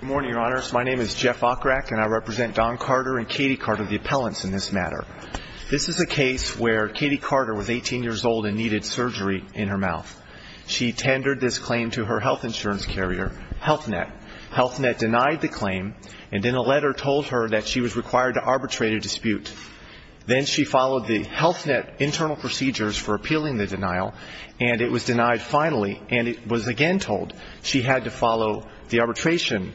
Good morning, Your Honors. My name is Jeff Okrak, and I represent Don Carter and Katie Carter, the appellants in this matter. This is a case where Katie Carter was 18 years old and needed surgery in her mouth. She tendered this claim to her health insurance carrier, Health Net. Health Net denied the claim, and then a letter told her that she was required to arbitrate a dispute. Then she followed the Health Net internal procedures for appealing the denial, and it was denied finally, and it was again told that she had to follow the arbitration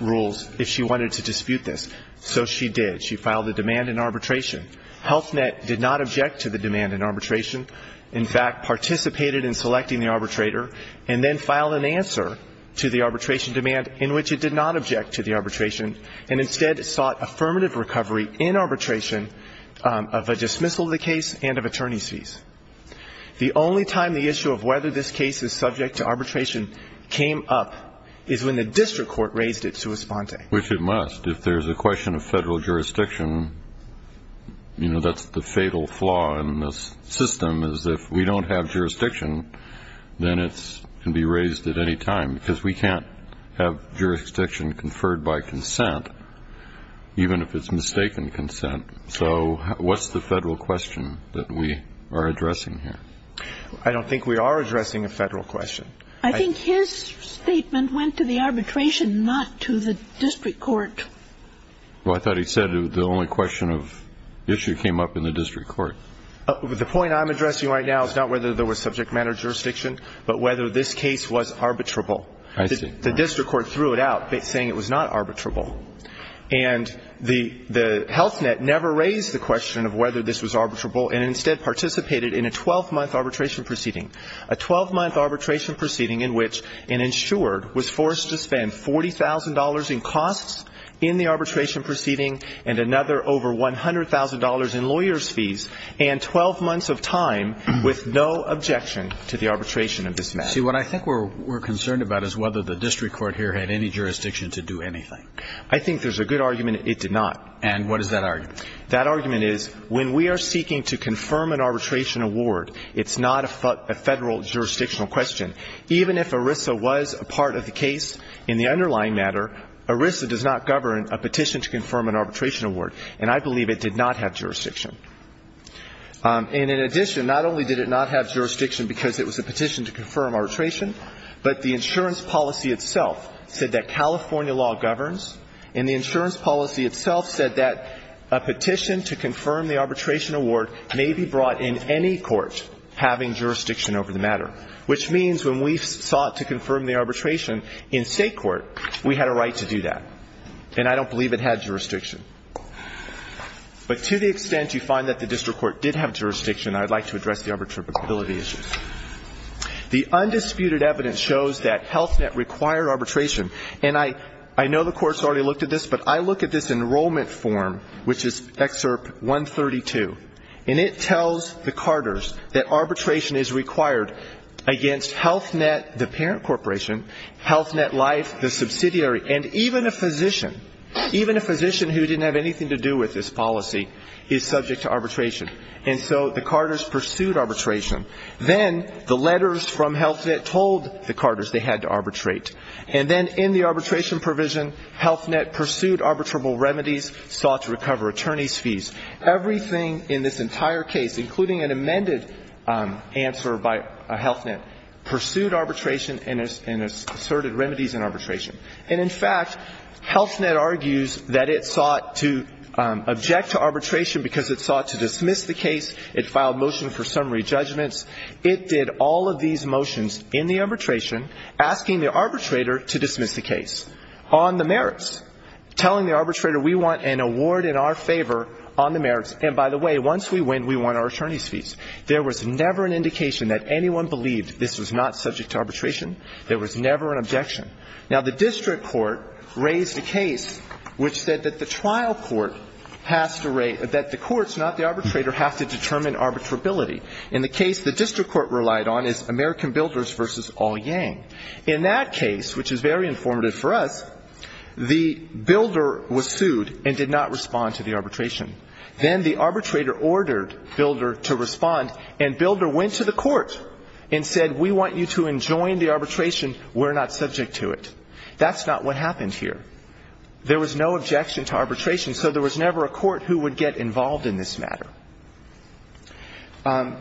rules if she wanted to dispute this. So she did. She filed the demand in arbitration. Health Net did not object to the demand in arbitration, in fact, participated in selecting the arbitrator, and then filed an answer to the arbitration demand in which it did not object to the arbitration, and instead sought affirmative recovery in arbitration of a dismissal of the case and of attorney's fees. The only time the issue of whether this case is subject to arbitration came up is when the district court raised it to respond to it. Which it must. If there's a question of federal jurisdiction, you know, that's the fatal flaw in this system, is if we don't have jurisdiction, then it can be raised at any time, because we can't have jurisdiction conferred by consent, even if it's mistaken consent. So what's the federal question that we are addressing here? I don't think we are addressing a federal question. I think his statement went to the arbitration, not to the district court. Well, I thought he said the only question of issue came up in the district court. The point I'm addressing right now is not whether there was subject matter jurisdiction, but whether this case was arbitrable. The district court threw it out, saying it was not arbitrable. And the health net never raised the question of whether this was arbitrable and instead participated in a 12-month arbitration proceeding, a 12-month arbitration proceeding in which an insured was forced to spend $40,000 in costs in the arbitration proceeding and another over $100,000 in lawyer's fees and 12 months of time with no objection to the arbitration of dismissal. See, what I think we're concerned about is whether the district court here had any jurisdiction to do anything. I think there's a good argument it did not. And what is that argument? That argument is when we are seeking to confirm an arbitration award, it's not a federal jurisdictional question. Even if ERISA was a part of the case in the underlying matter, ERISA does not govern a petition to confirm an arbitration award, and I believe it did not have jurisdiction. And in addition, not only did it not have jurisdiction because it was a petition to confirm arbitration, but the insurance policy itself said that California law governs, and the insurance policy itself said that a petition to confirm the arbitration award may be brought in any court having jurisdiction over the matter, which means when we sought to confirm the arbitration in State court, we had a right to do that. And I don't believe it had jurisdiction. But to the extent you find that the district court did have jurisdiction, I would like to address the arbitrability issues. The undisputed evidence shows that Health Net required arbitration, and I know the courts already looked at this, but I look at this enrollment form, which is Excerpt 132, and it tells the Carters that arbitration is required against Health Net, the parent corporation, Health Net Life, the subsidiary, and even a physician, even a physician who didn't have anything to do with this policy is subject to arbitration. And so the Carters pursued arbitration. Then the letters from Health Net told the Carters they had to arbitrate. And then in the arbitration provision, Health Net pursued arbitrable remedies, sought to recover attorney's fees. Everything in this entire case, including an amended answer by Health Net, pursued arbitration and asserted remedies in arbitration. And in fact, Health Net argues that it sought to object to arbitration because it sought to dismiss the case. It filed motion for summary judgments. It did all of these motions in the arbitration asking the arbitrator to dismiss the case on the merits, telling the arbitrator we want an award in our favor on the merits. And by the way, once we win, we want our attorney's fees. There was never an indication that anyone believed this was not subject to arbitration. There was never an objection. Now, the district court raised a case which said that the trial court has to rate, that the courts, not the arbitrator, has to determine arbitrability. In the case the district court relied on is American Builders v. All Yang. In that case, which is very informative for us, the builder was sued and did not respond to the arbitration. Then the arbitrator ordered Builder to respond, and Builder went to the court and said, we want you to enjoin the arbitration. We're not subject to it. That's not what happened here. There was no objection to arbitration, so there was never a court who would get involved in this matter.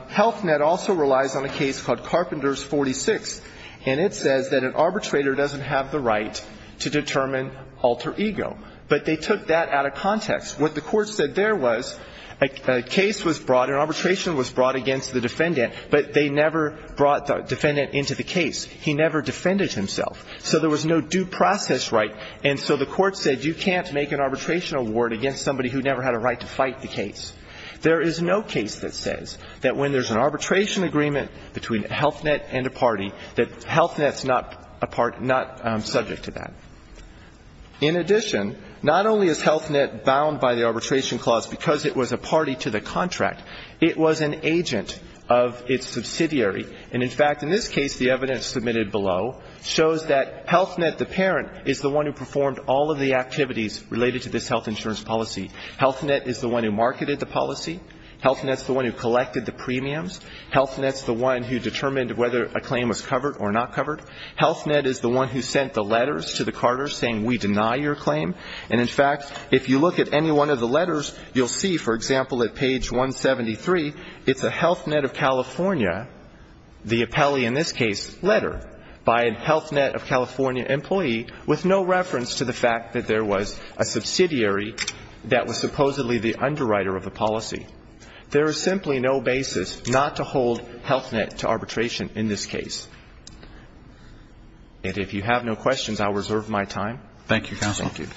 Health Net also relies on a case called Carpenters 46, and it says that an arbitrator doesn't have the right to determine alter ego. But they took that out of context. What the court said there was a case was brought, an arbitration was brought against the defendant, but they never brought the defendant into the case. He never defended himself. So there was no due process right, and so the court said you can't make an arbitration award against somebody who never had a right to fight the case. There is no case that says that when there's an arbitration agreement between Health Net and a party, that Health Net's not a part, not subject to that. In addition, not only is Health Net bound by the arbitration clause because it was a party to the contract, it was an agent of its subsidiary. And, in fact, in this case, the evidence submitted below shows that Health Net, the parent, is the one who performed all of the activities related to this health insurance policy. Health Net is the one who marketed the policy. Health Net's the one who collected the premiums. Health Net's the one who determined whether a claim was covered or not covered. Health Net is the one who sent the letters to the Carters saying we deny your claim. And, in fact, if you look at any one of the letters, you'll see, for example, at page 173, it's a Health Net of California, the appellee in this case, letter by a Health Net of California employee with no reference to the fact that there was a subsidiary that was supposedly the underwriter of the policy. There is simply no basis not to hold Health Net to arbitration in this case. And if you have no questions, I'll reserve my time. Thank you, Counsel. Thank you.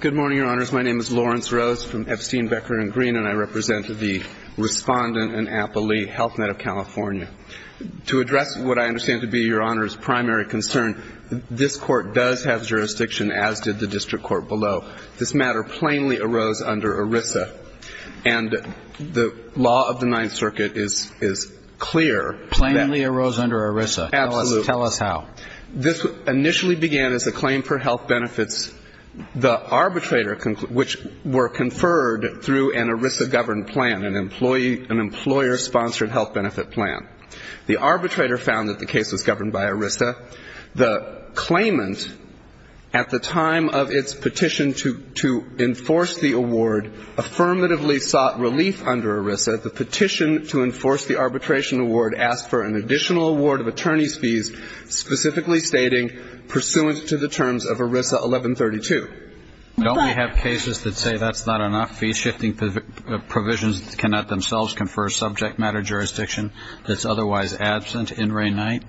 Good morning, Your Honors. My name is Lawrence Rose from Epstein, Becker & Green, and I represent the respondent and appellee, Health Net of California. To address what I understand to be Your Honor's primary concern, this Court does have jurisdiction, as did the district court below. This matter plainly arose under ERISA, and the law of the Ninth Circuit is clear that it arose under ERISA. Absolutely. Tell us how. This initially began as a claim for health benefits. The arbitrator, which were conferred through an ERISA-governed plan, an employer-sponsored health benefit plan. The arbitrator found that the case was governed by ERISA. The claimant, at the time of its petition to enforce the award, affirmatively sought relief under ERISA. The petition to enforce the arbitration award asked for an additional award of attorney's fees, specifically stating, pursuant to the terms of ERISA 1132. Don't we have cases that say that's not enough? Fee-shifting provisions cannot themselves confer subject-matter jurisdiction that's otherwise absent in Ray Knight?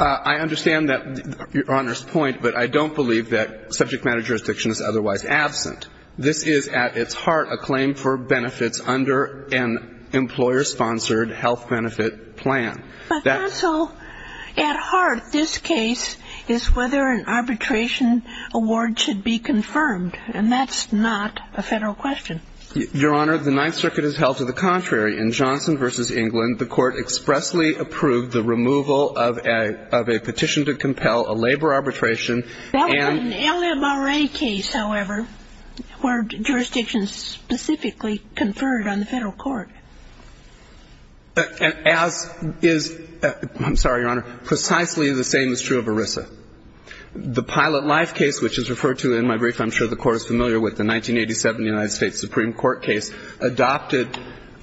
I understand that, Your Honor's point, but I don't believe that subject-matter jurisdiction is otherwise absent. This is, at its heart, a claim for benefits under an employer-sponsored health benefit plan. But also, at heart, this case is whether an arbitration award should be confirmed, and that's not a Federal question. Your Honor, the Ninth Circuit has held to the contrary. In Johnson v. England, the Court expressly approved the removal of a petition to compel a labor arbitration, and That would be an LMRA case, however. Were jurisdictions specifically conferred on the Federal court? As is, I'm sorry, Your Honor, precisely the same is true of ERISA. The Pilot Life case, which is referred to in my brief, I'm sure the Court is familiar with, the 1987 United States Supreme Court case, adopted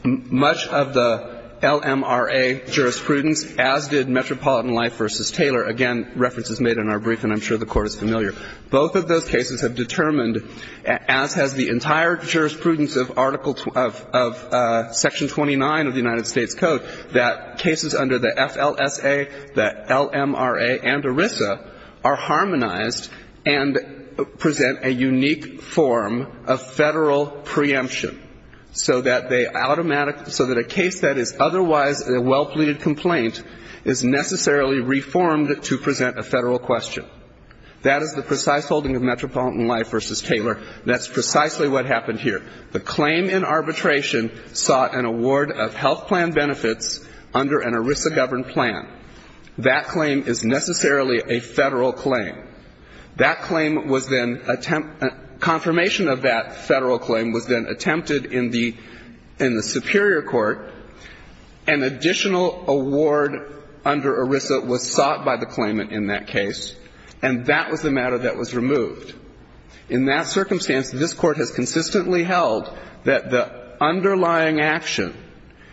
much of the LMRA jurisprudence, as did Metropolitan Life v. Taylor. Again, references made in our brief, and I'm sure the Court is familiar. Both of those cases have determined, as has the entire jurisprudence of Article of Section 29 of the United States Code, that cases under the FLSA, the LMRA, and ERISA are harmonized and present a unique form of Federal preemption, so that they automatically, so that a case that is otherwise a well-pleaded complaint is necessarily reformed to present a Federal question. That is the precise holding of Metropolitan Life v. Taylor, and that's precisely what happened here. The claim in arbitration sought an award of health plan benefits under an ERISA-governed plan. That claim is necessarily a Federal claim. That claim was then attempted, confirmation of that Federal claim was then attempted in the Superior Court. An additional award under ERISA was sought by the claimant in that case, and that was the matter that was removed. In that circumstance, this Court has consistently held that the underlying action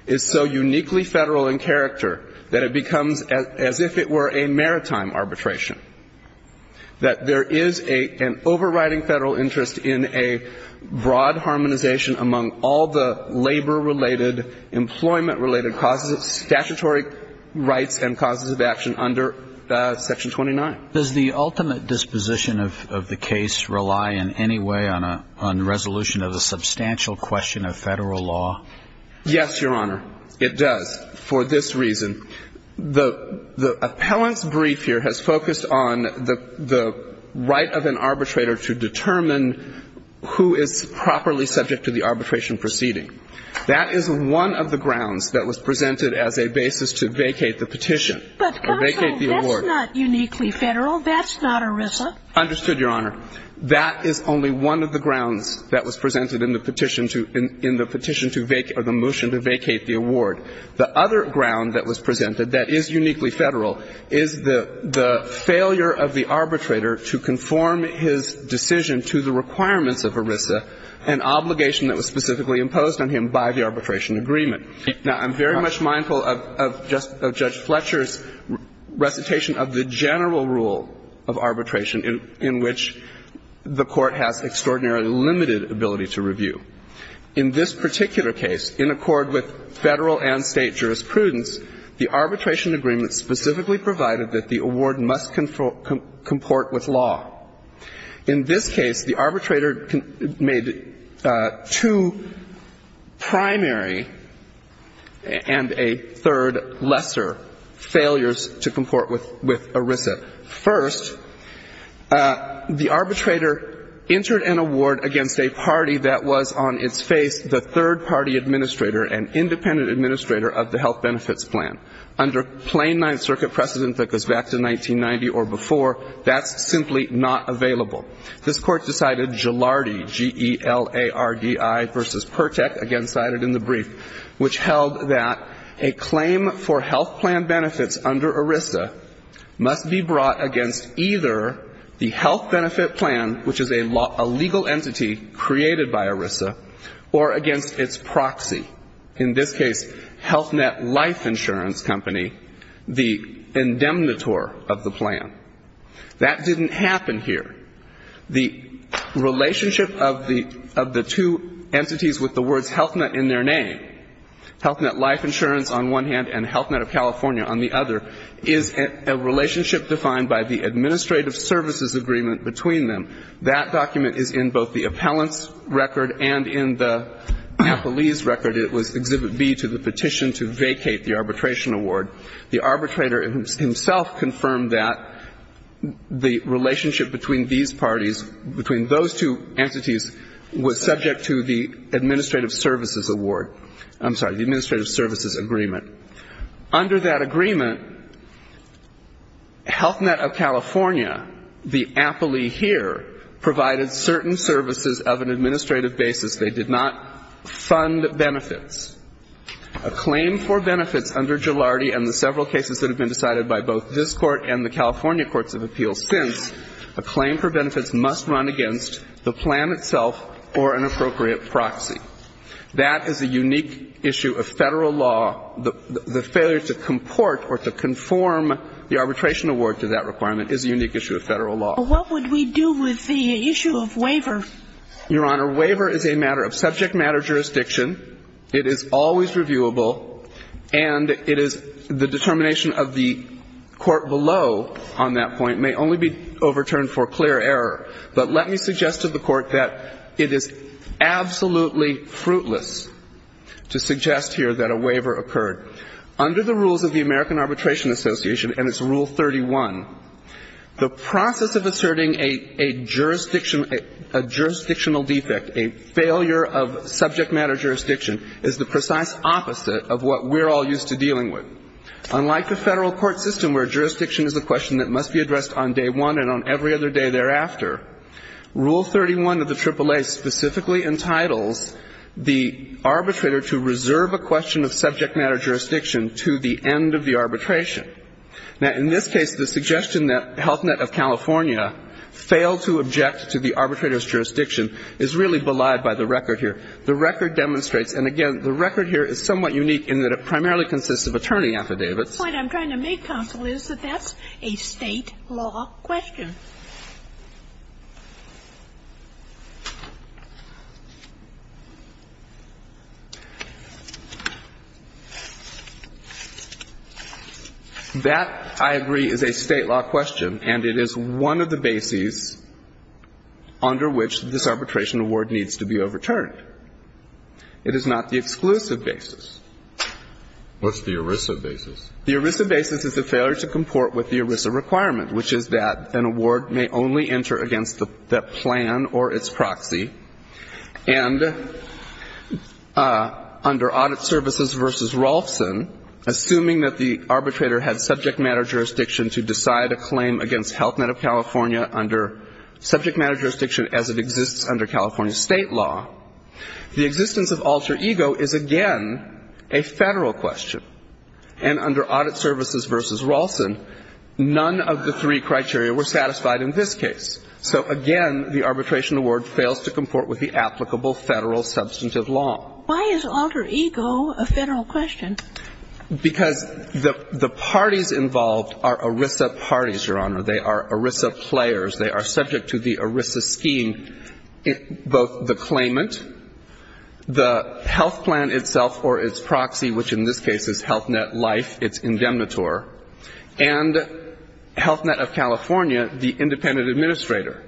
is so uniquely Federal in character that it becomes as if it were a maritime arbitration, that there is an overriding Federal interest in a broad harmonization among all the labor-related, employment-related causes of statutory rights and causes of action under Section 29. Does the ultimate disposition of the case rely in any way on a resolution of a substantial question of Federal law? Yes, Your Honor, it does, for this reason. The appellant's brief here has focused on the right of an arbitrator to determine who is properly subject to the arbitration proceeding. That is one of the grounds that was presented as a basis to vacate the petition or vacate the award. But, counsel, that's not uniquely Federal. That's not ERISA. Understood, Your Honor. That is only one of the grounds that was presented in the petition to vacate or the motion to vacate the award. The other ground that was presented that is uniquely Federal is the failure of the obligation that was specifically imposed on him by the arbitration agreement. Now, I'm very much mindful of Judge Fletcher's recitation of the general rule of arbitration in which the Court has extraordinarily limited ability to review. In this particular case, in accord with Federal and State jurisprudence, the arbitration agreement specifically provided that the award must comport with law. In this case, the arbitrator made two primary and a third lesser failures to comport with ERISA. First, the arbitrator entered an award against a party that was on its face the third-party administrator and independent administrator of the health benefits plan. Under plain Ninth Circuit precedent that goes back to 1990 or before, that's simply not available. This Court decided Gilardi, G-E-L-A-R-D-I versus Pertek, again cited in the brief, which held that a claim for health plan benefits under ERISA must be brought against either the health benefit plan, which is a legal entity created by ERISA, or against its proxy. In this case, HealthNet Life Insurance Company, the indemnitor of the plan. That didn't happen here. The relationship of the two entities with the words HealthNet in their name, HealthNet Life Insurance on one hand and HealthNet of California on the other, is a relationship defined by the administrative services agreement between them. That document is in both the appellant's record and in the appellee's record. It was Exhibit B to the petition to vacate the arbitration award. The arbitrator himself confirmed that the relationship between these parties, between those two entities, was subject to the administrative services award. I'm sorry, the administrative services agreement. Under that agreement, HealthNet of California, the appellee here, provided certain services of an administrative basis. They did not fund benefits. A claim for benefits under Gilardi and the several cases that have been decided by both this Court and the California courts of appeals since, a claim for benefits must run against the plan itself or an appropriate proxy. That is a unique issue of Federal law. The failure to comport or to conform the arbitration award to that requirement is a unique issue of Federal law. But what would we do with the issue of waiver? Your Honor, waiver is a matter of subject matter jurisdiction. It is always reviewable. And it is the determination of the court below on that point may only be overturned for clear error. But let me suggest to the Court that it is absolutely fruitless to suggest here that a waiver occurred. Under the rules of the American Arbitration Association and its Rule 31, the process of asserting a jurisdictional defect, a failure of subject matter jurisdiction, is the precise opposite of what we're all used to dealing with. Unlike the Federal court system where jurisdiction is a question that must be addressed on day one and on every other day thereafter, Rule 31 of the AAA specifically entitles the arbitrator to reserve a question of subject matter jurisdiction to the end of the arbitration. Now, in this case, the suggestion that Health Net of California failed to object to the arbitrator's jurisdiction is really belied by the record here. The record demonstrates, and again, the record here is somewhat unique in that it primarily consists of attorney affidavits. The point I'm trying to make, counsel, is that that's a State law question. That, I agree, is a State law question, and it is one of the bases under which this arbitration award needs to be overturned. It is not the exclusive basis. What's the ERISA basis? The ERISA basis is a failure to comport with the ERISA requirement, which is that an award may only enter against the plan or its proxy. And under Audit Services v. Rolfson, assuming that the arbitrator had subject matter jurisdiction to decide a claim against Health Net of California under subject matter jurisdiction as it exists under California State law, the existence of alter ego is a Federal question. And under Audit Services v. Rolfson, none of the three criteria were satisfied in this case. So, again, the arbitration award fails to comport with the applicable Federal substantive law. Why is alter ego a Federal question? Because the parties involved are ERISA parties, Your Honor. They are ERISA players. They are subject to the ERISA scheme, both the claimant, the health plan itself or its proxy, which in this case is Health Net Life, its indemnitor, and Health Net of California, the independent administrator.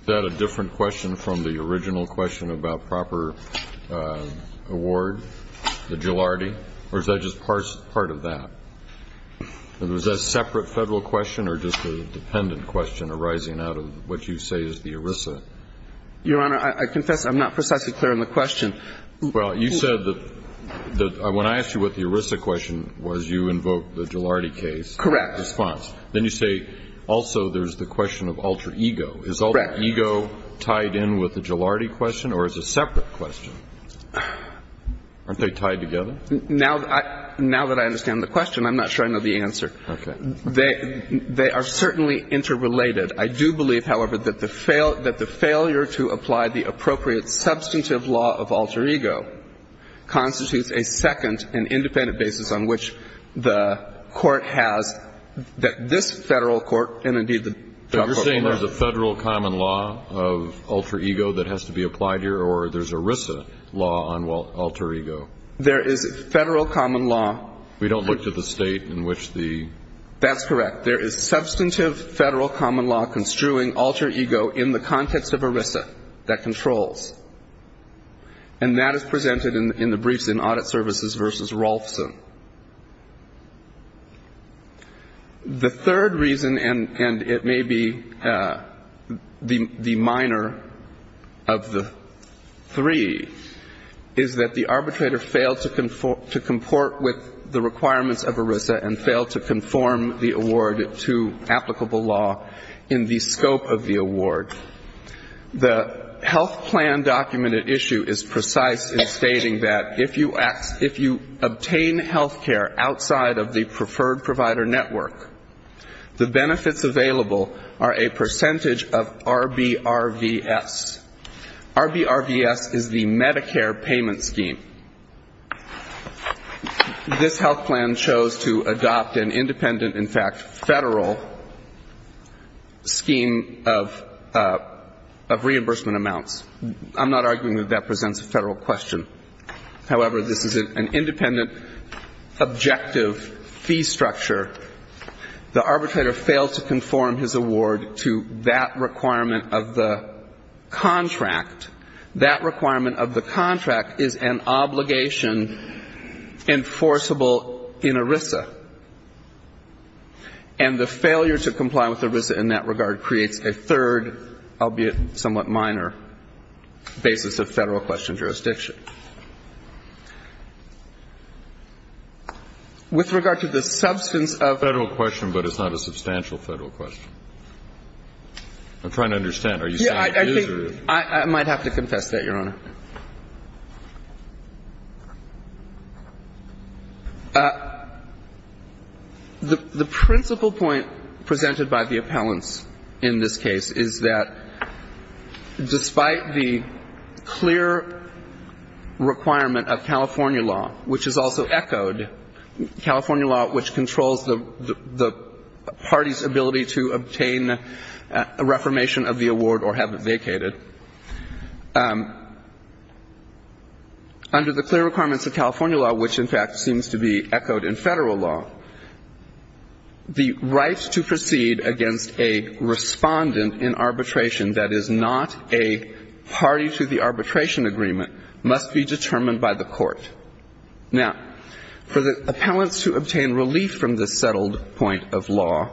Is that a different question from the original question about proper award, the jilardi? Or is that just part of that? Is that a separate Federal question or just a dependent question arising out of what you say is the ERISA? Your Honor, I confess I'm not precisely clear on the question. Well, you said that when I asked you what the ERISA question was, you invoked the jilardi case. Correct. Then you say also there's the question of alter ego. Correct. Is alter ego tied in with the jilardi question or is it a separate question? Aren't they tied together? Now that I understand the question, I'm not sure I know the answer. Okay. They are certainly interrelated. I do believe, however, that the failure to apply the appropriate substantive law of alter ego constitutes a second and independent basis on which the Court has that this Federal court and, indeed, the drug court. So you're saying there's a Federal common law of alter ego that has to be applied here or there's ERISA law on alter ego? There is Federal common law. We don't look to the State in which the ---- That's correct. There is substantive Federal common law construing alter ego in the context of ERISA that controls. And that is presented in the briefs in Audit Services v. Rolfson. The third reason, and it may be the minor of the three, is that the arbitrator failed to comport with the requirements of ERISA and failed to conform the award The health plan documented issue is precise in stating that if you obtain healthcare outside of the preferred provider network, the benefits available are a percentage of RBRVS. RBRVS is the Medicare payment scheme. This health plan chose to adopt an independent, in fact, Federal scheme of payment of reimbursement amounts. I'm not arguing that that presents a Federal question. However, this is an independent, objective fee structure. The arbitrator failed to conform his award to that requirement of the contract. That requirement of the contract is an obligation enforceable in ERISA. And the failure to comply with ERISA in that regard creates a third, albeit somewhat minor, basis of Federal question jurisdiction. With regard to the substance of the Federal question, but it's not a substantial Federal question. I'm trying to understand. Are you saying it is or is it not? I might have to confess that, Your Honor. The principal point presented by the appellants in this case is that despite the clear requirement of California law, which is also echoed, California law, which controls the party's ability to obtain a reformation of the award or have it vacated, the right to proceed against a respondent in arbitration that is not a party to the arbitration agreement must be determined by the court. Now, for the appellants to obtain relief from this settled point of law,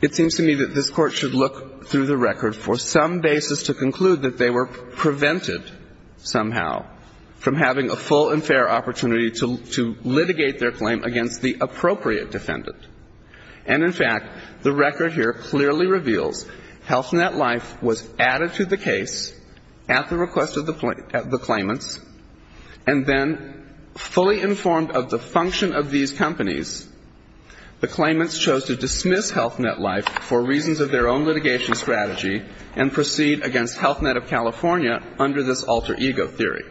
it seems to me that this Court should look through the record for some basis to conclude that they were prevented somehow from having a full and fair opportunity to litigate their claim against the appropriate defendant. And in fact, the record here clearly reveals Health Net Life was added to the case at the request of the claimants, and then fully informed of the function of these companies, the claimants chose to dismiss Health Net Life for reasons of their own litigation strategy and proceed against Health Net of California under this alter ego theory.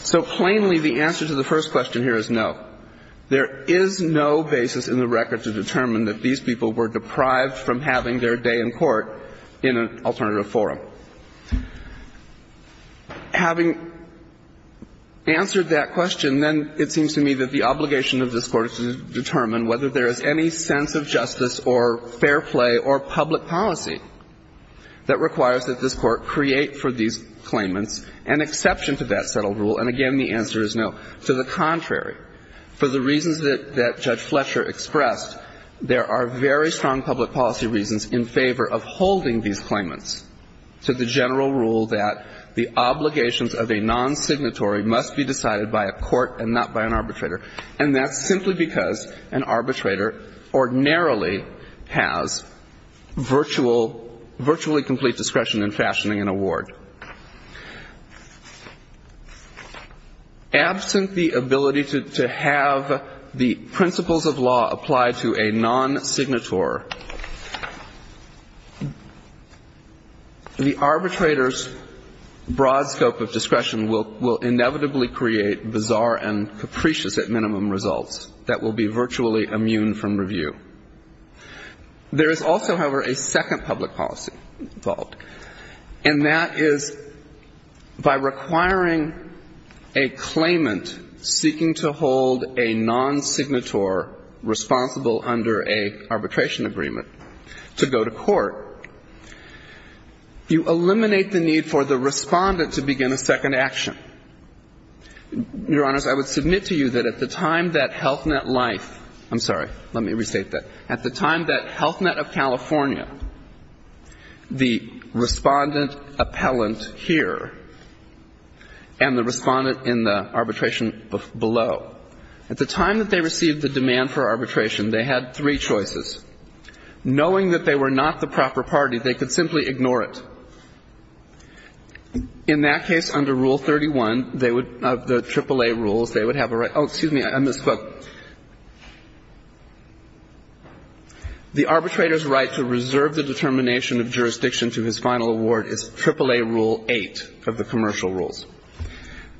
So plainly, the answer to the first question here is no. There is no basis in the record to determine that these people were deprived from having their day in court in an alternative forum. Having answered that question, then it seems to me that the obligation of this Court is to determine whether there is any sense of justice or fair play or public policy that requires that this Court create for these claimants an exception to that settled rule. And again, the answer is no. To the contrary, for the reasons that Judge Fletcher expressed, there are very strong public policy reasons in favor of holding these claimants to the general rule that the obligations of a nonsignatory must be decided by a court and not by an arbitrator, and that's simply because an arbitrator ordinarily has virtually complete discretion in fashioning an award. Absent the ability to have the principles of law apply to a nonsignator, the arbitrator's at minimum results that will be virtually immune from review. There is also, however, a second public policy fault, and that is by requiring a claimant seeking to hold a nonsignator responsible under an arbitration agreement to go to court, you eliminate the need for the respondent to begin a second action. Your Honors, I would submit to you that at the time that Health Net Life — I'm sorry, let me restate that. At the time that Health Net of California, the respondent appellant here and the respondent in the arbitration below, at the time that they received the demand for arbitration, they had three choices. Knowing that they were not the proper party, they could simply ignore it. In that case, under Rule 31, they would — of the AAA rules, they would have a — oh, excuse me, I misspoke. The arbitrator's right to reserve the determination of jurisdiction to his final award is AAA Rule 8 of the commercial rules.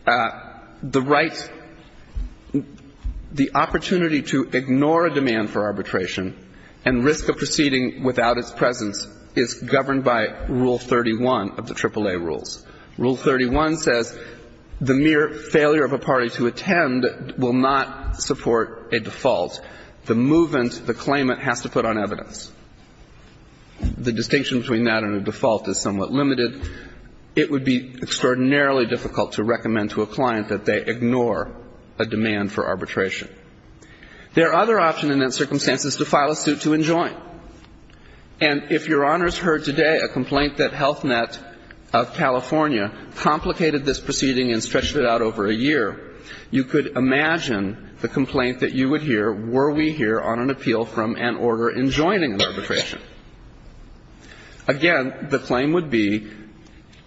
The right — the opportunity to ignore a demand for arbitration and risk a proceeding without its presence is governed by Rule 31 of the AAA rules. Rule 31 says the mere failure of a party to attend will not support a default. The movant, the claimant, has to put on evidence. The distinction between that and a default is somewhat limited. It would be extraordinarily difficult to recommend to a client that they ignore a demand for arbitration. There are other options in those circumstances to file a suit to enjoin. And if Your Honors heard today a complaint that Health Net of California complicated this proceeding and stretched it out over a year, you could imagine the complaint that you would hear were we here on an appeal from an order enjoining arbitration. Again, the claim would be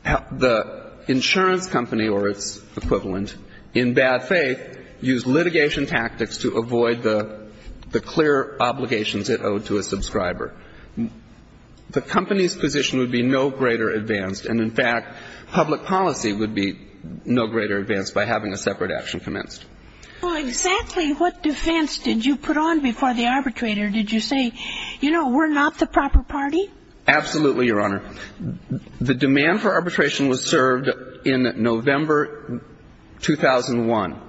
the insurance company or its equivalent, in bad faith, use litigation tactics to avoid the clear obligations it owed to a subscriber. The company's position would be no greater advanced. And, in fact, public policy would be no greater advanced by having a separate action commenced. Well, exactly what defense did you put on before the arbitrator? Did you say, you know, we're not the proper party? Absolutely, Your Honor. The demand for arbitration was served in November 2001.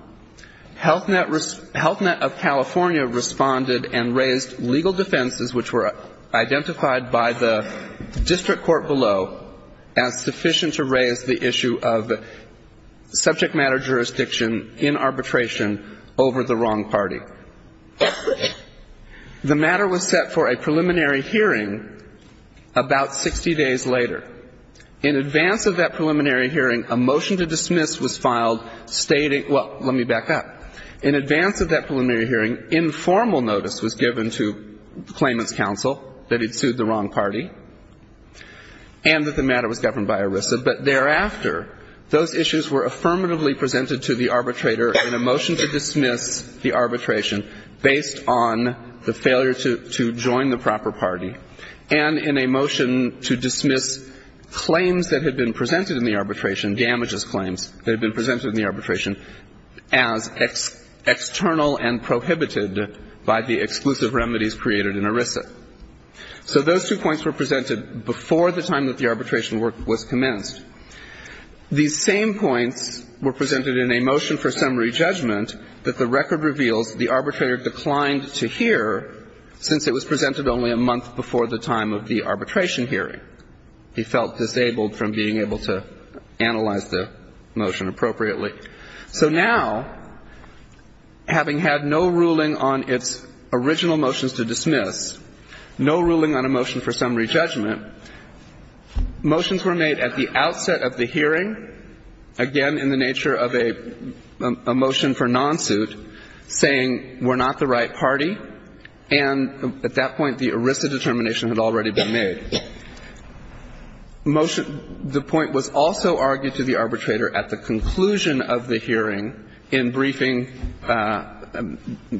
Health Net of California responded and raised legal defenses which were identified by the district court below as sufficient to raise the issue of subject matter jurisdiction in arbitration over the wrong party. The matter was set for a preliminary hearing about 60 days later. In advance of that preliminary hearing, a motion to dismiss was filed stating – well, let me back up. In advance of that preliminary hearing, informal notice was given to the claimant's counsel that he'd sued the wrong party and that the matter was governed by ERISA. But thereafter, those issues were affirmatively presented to the arbitrator in a motion to dismiss the arbitration based on the failure to join the proper party and in a motion to dismiss claims that had been presented in the arbitration, damages claims that had been presented in the arbitration, as external and prohibited by the exclusive remedies created in ERISA. So those two points were presented before the time that the arbitration work was commenced. These same points were presented in a motion for summary judgment that the record reveals the arbitrator declined to hear since it was presented only a month before the time of the arbitration hearing. He felt disabled from being able to analyze the motion appropriately. So now, having had no ruling on its original motions to dismiss, no ruling on a motion for summary judgment, motions were made at the outset of the hearing, again in the nature of a motion for non-suit, saying we're not the right party. And at that point, the ERISA determination had already been made. Motion the point was also argued to the arbitrator at the conclusion of the hearing in briefing,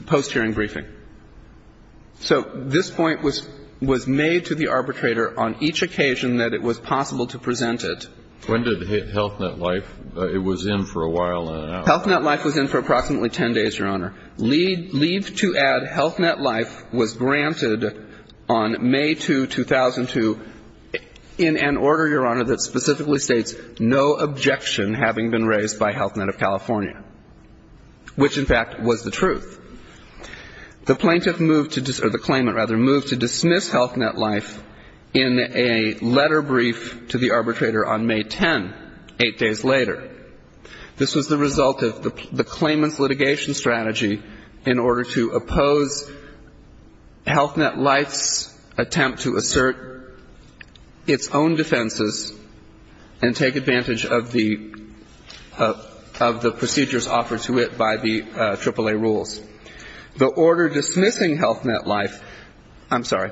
post-hearing briefing. So this point was made to the arbitrator on each occasion that it was possible to present it. When did Health Net Life, it was in for a while and then out? Health Net Life was in for approximately 10 days, Your Honor. Leave to add Health Net Life was granted on May 2, 2002, in an order, Your Honor, that specifically states no objection having been raised by Health Net of California, which, in fact, was the truth. The plaintiff moved to, or the claimant, rather, moved to dismiss Health Net Life in a letter brief to the arbitrator on May 10, eight days later. This was the result of the claimant's litigation strategy in order to oppose Health Net Life's attempt to assert its own defenses and take advantage of the procedures offered to it by the AAA rules. The order dismissing Health Net Life, I'm sorry,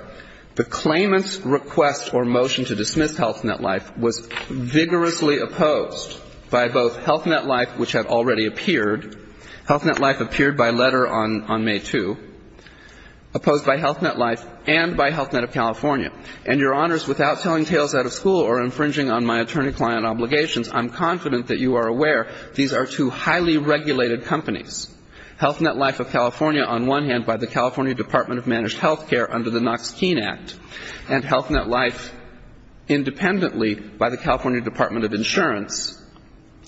the claimant's request or motion to dismiss Health Net Life was vigorously opposed by both Health Net Life, which had already appeared, Health Net Life appeared by letter on May 2, opposed by Health Net Life and by Health Net of California. And, Your Honors, without telling tales out of school or infringing on my attorney I'm confident that you are aware these are two highly regulated companies. Health Net Life of California, on one hand, by the California Department of Managed Health Care under the Knox-Keene Act, and Health Net Life independently by the California Department of Insurance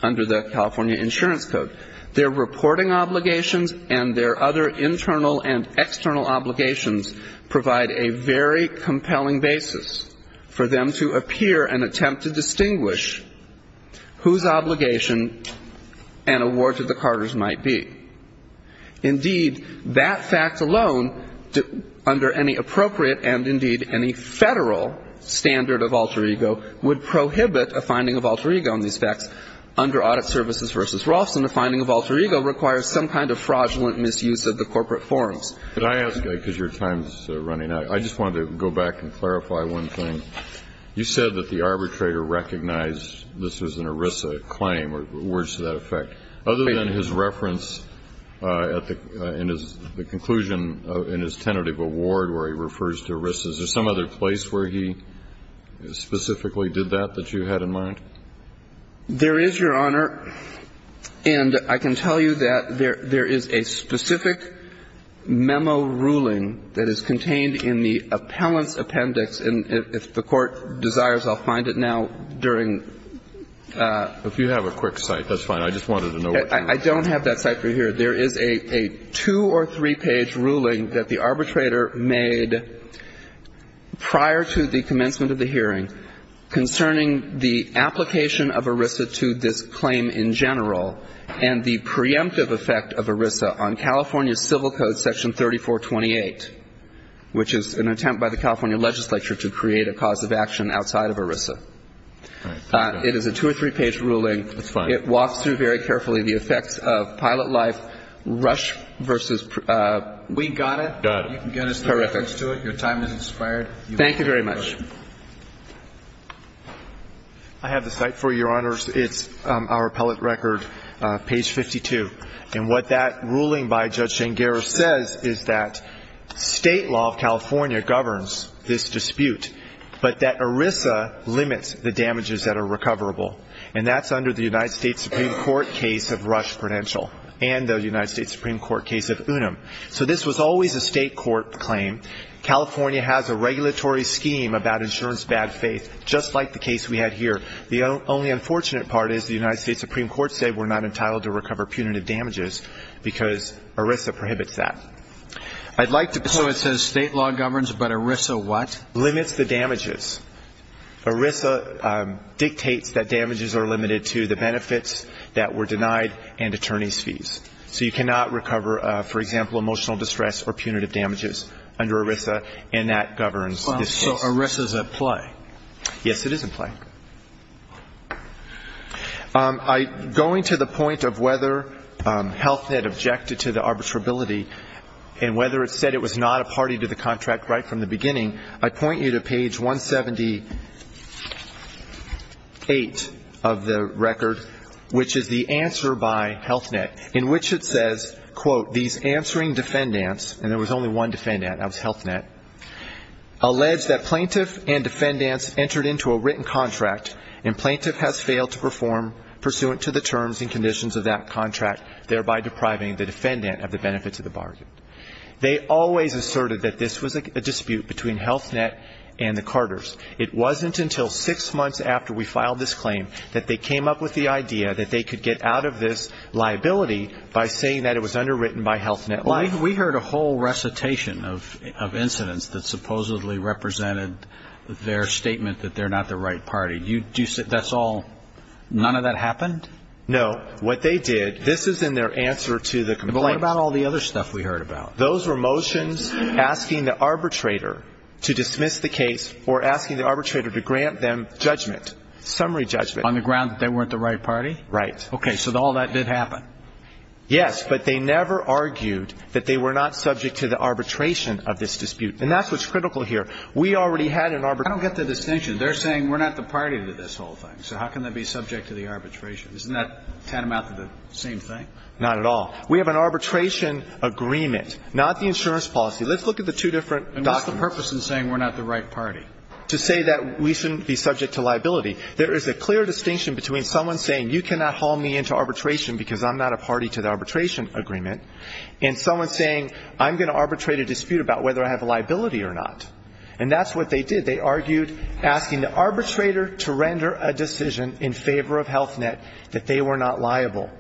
under the California Insurance Code. Their reporting obligations and their other internal and external obligations provide a very compelling basis for them to appear and attempt to distinguish whose obligation an award to the Carters might be. Indeed, that fact alone, under any appropriate and, indeed, any Federal standard of alter ego, would prohibit a finding of alter ego in these facts. Under Audit Services v. Rolfson, a finding of alter ego requires some kind of fraudulent misuse of the corporate forms. But I ask, because your time is running out, I just wanted to go back and clarify one thing. You said that the arbitrator recognized this was an ERISA claim or words to that effect. Other than his reference at the end of the conclusion in his tentative award where he refers to ERISA, is there some other place where he specifically did that that you had in mind? There is, Your Honor. And I can tell you that there is a specific memo ruling that is contained in the appellant's appendix. And if the Court desires, I'll find it now during the question. If you have a quick cite, that's fine. I just wanted to know what you were saying. I don't have that cite for you here. There is a two- or three-page ruling that the arbitrator made prior to the commencement of the hearing concerning the application of ERISA to this claim in general and the preemptive effect of ERISA on California Civil Code Section 3428, which is an attempt by the California legislature to create a cause of action outside of ERISA. It is a two- or three-page ruling. It walks through very carefully the effects of pilot life, rush versus we got it. Got it. You can get his reference to it. Your time has expired. Thank you very much. I have the cite for you, Your Honors. It's our appellate record, page 52. And what that ruling by Judge Jane Garris says is that state law of California governs this dispute, but that ERISA limits the damages that are recoverable. And that's under the United States Supreme Court case of Rush Prudential and the United States Supreme Court case of Unum. So this was always a state court claim. California has a regulatory scheme about insurance bad faith, just like the case we had here. The only unfortunate part is the United States Supreme Court said we're not entitled to recover punitive damages because ERISA prohibits that. So it says state law governs, but ERISA what? Limits the damages. ERISA dictates that damages are limited to the benefits that were denied and attorney's fees. So you cannot recover, for example, emotional distress or punitive damages under ERISA, and that governs this case. So ERISA is at play. Yes, it is at play. Going to the point of whether Health Net objected to the arbitrability and whether it said it was not a party to the contract right from the beginning, I point you to page 178 of the record, which is the answer by Health Net. In which it says, quote, these answering defendants, and there was only one defendant, that was Health Net, alleged that plaintiff and defendants entered into a written contract and plaintiff has failed to perform pursuant to the terms and conditions of that contract, thereby depriving the defendant of the benefits of the bargain. They always asserted that this was a dispute between Health Net and the Carters. It wasn't until six months after we filed this claim that they came up with the idea that they could get out of this liability by saying that it was underwritten by Health Net. We heard a whole recitation of incidents that supposedly represented their statement that they're not the right party. That's all? None of that happened? No. What they did, this is in their answer to the complaint. But what about all the other stuff we heard about? Those were motions asking the arbitrator to dismiss the case or asking the arbitrator to grant them judgment, summary judgment. On the ground that they weren't the right party? Right. Okay. So all that did happen? Yes. But they never argued that they were not subject to the arbitration of this dispute. And that's what's critical here. We already had an arbitration. I don't get the distinction. They're saying we're not the party to this whole thing. So how can they be subject to the arbitration? Isn't that tantamount to the same thing? Not at all. We have an arbitration agreement, not the insurance policy. Let's look at the two different documents. And what's the purpose in saying we're not the right party? To say that we shouldn't be subject to liability. There is a clear distinction between someone saying you cannot haul me into arbitration because I'm not a party to the arbitration agreement and someone saying I'm going to arbitrate a dispute about whether I have a liability or not. And that's what they did. They argued asking the arbitrator to render a decision in favor of Health Net that they were not liable.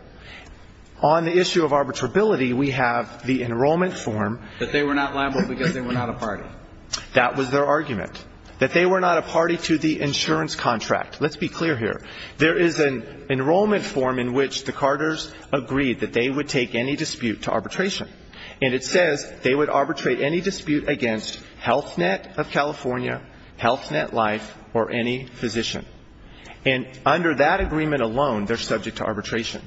On the issue of arbitrability, we have the enrollment form. That they were not liable because they were not a party. That was their argument. That they were not a party to the insurance contract. Let's be clear here. There is an enrollment form in which the Carters agreed that they would take any dispute to arbitration. And it says they would arbitrate any dispute against Health Net of California, Health Net Life, or any physician. And under that agreement alone, they're subject to arbitration.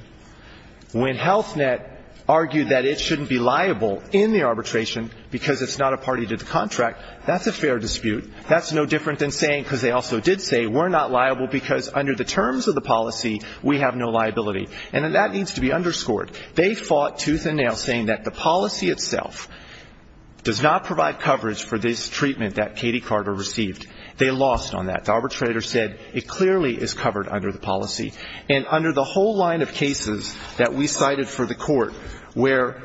When Health Net argued that it shouldn't be liable in the arbitration because it's not a party to the contract, that's a fair dispute. That's no different than saying, because they also did say, we're not liable because under the terms of the policy, we have no liability. And that needs to be underscored. They fought tooth and nail saying that the policy itself does not provide coverage for this treatment that Katie Carter received. They lost on that. The arbitrator said it clearly is covered under the policy. And under the whole line of cases that we cited for the court where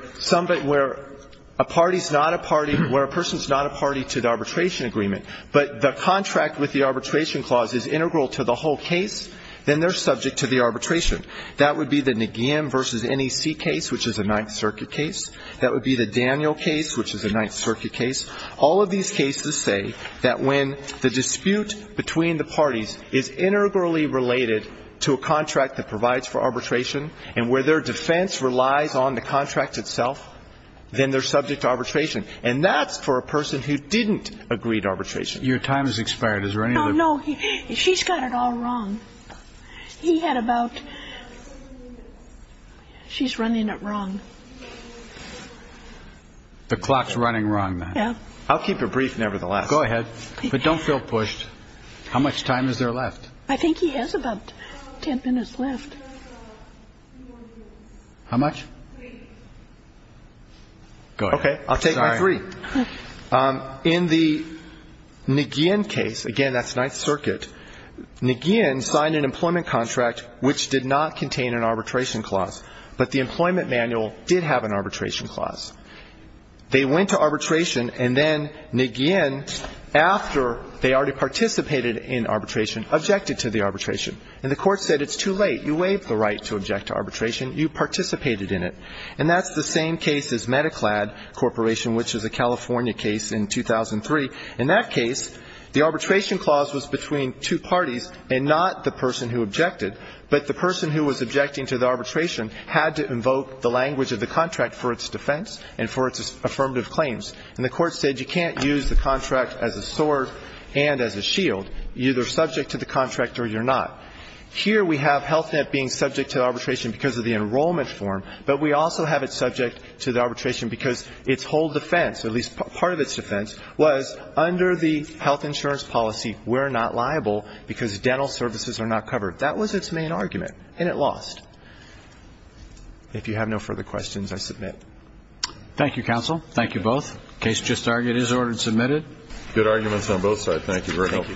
a party is not a party to the arbitration agreement, but the contract with the arbitration clause is integral to the whole case, then they're subject to the arbitration. That would be the Nagin versus NEC case, which is a Ninth Circuit case. That would be the Daniel case, which is a Ninth Circuit case. All of these cases say that when the dispute between the parties is integrally related to a contract that provides for arbitration, and where their defense relies on the contract itself, then they're subject to arbitration. And that's for a person who didn't agree to arbitration. Your time has expired. Is there any other? No. She's got it all wrong. He had about ‑‑ she's running it wrong. The clock's running wrong. Yeah. I'll keep it brief, nevertheless. Go ahead. But don't feel pushed. How much time is there left? I think he has about ten minutes left. How much? Go ahead. Okay. I'll take my three. In the Nagin case, again, that's Ninth Circuit, Nagin signed an employment contract which did not contain an arbitration clause. But the employment manual did have an arbitration clause. They went to arbitration, and then Nagin, after they already participated in arbitration, objected to the arbitration. And the Court said it's too late. You waived the right to object to arbitration. You participated in it. And that's the same case as Mediclad Corporation, which is a California case in 2003. In that case, the arbitration clause was between two parties and not the person who objected. But the person who was objecting to the arbitration had to invoke the language of the contract for its defense and for its affirmative claims. And the Court said you can't use the contract as a sword and as a shield. You're either subject to the contract or you're not. Here we have HealthNet being subject to arbitration because of the enrollment form, but we also have it subject to the arbitration because its whole defense, at least part of its defense, was under the health insurance policy, we're not liable because dental services are not covered. That was its main argument, and it lost. If you have no further questions, I submit. Thank you, counsel. Thank you both. Case just argued is ordered and submitted. Good arguments on both sides. Thank you very much. Thank you.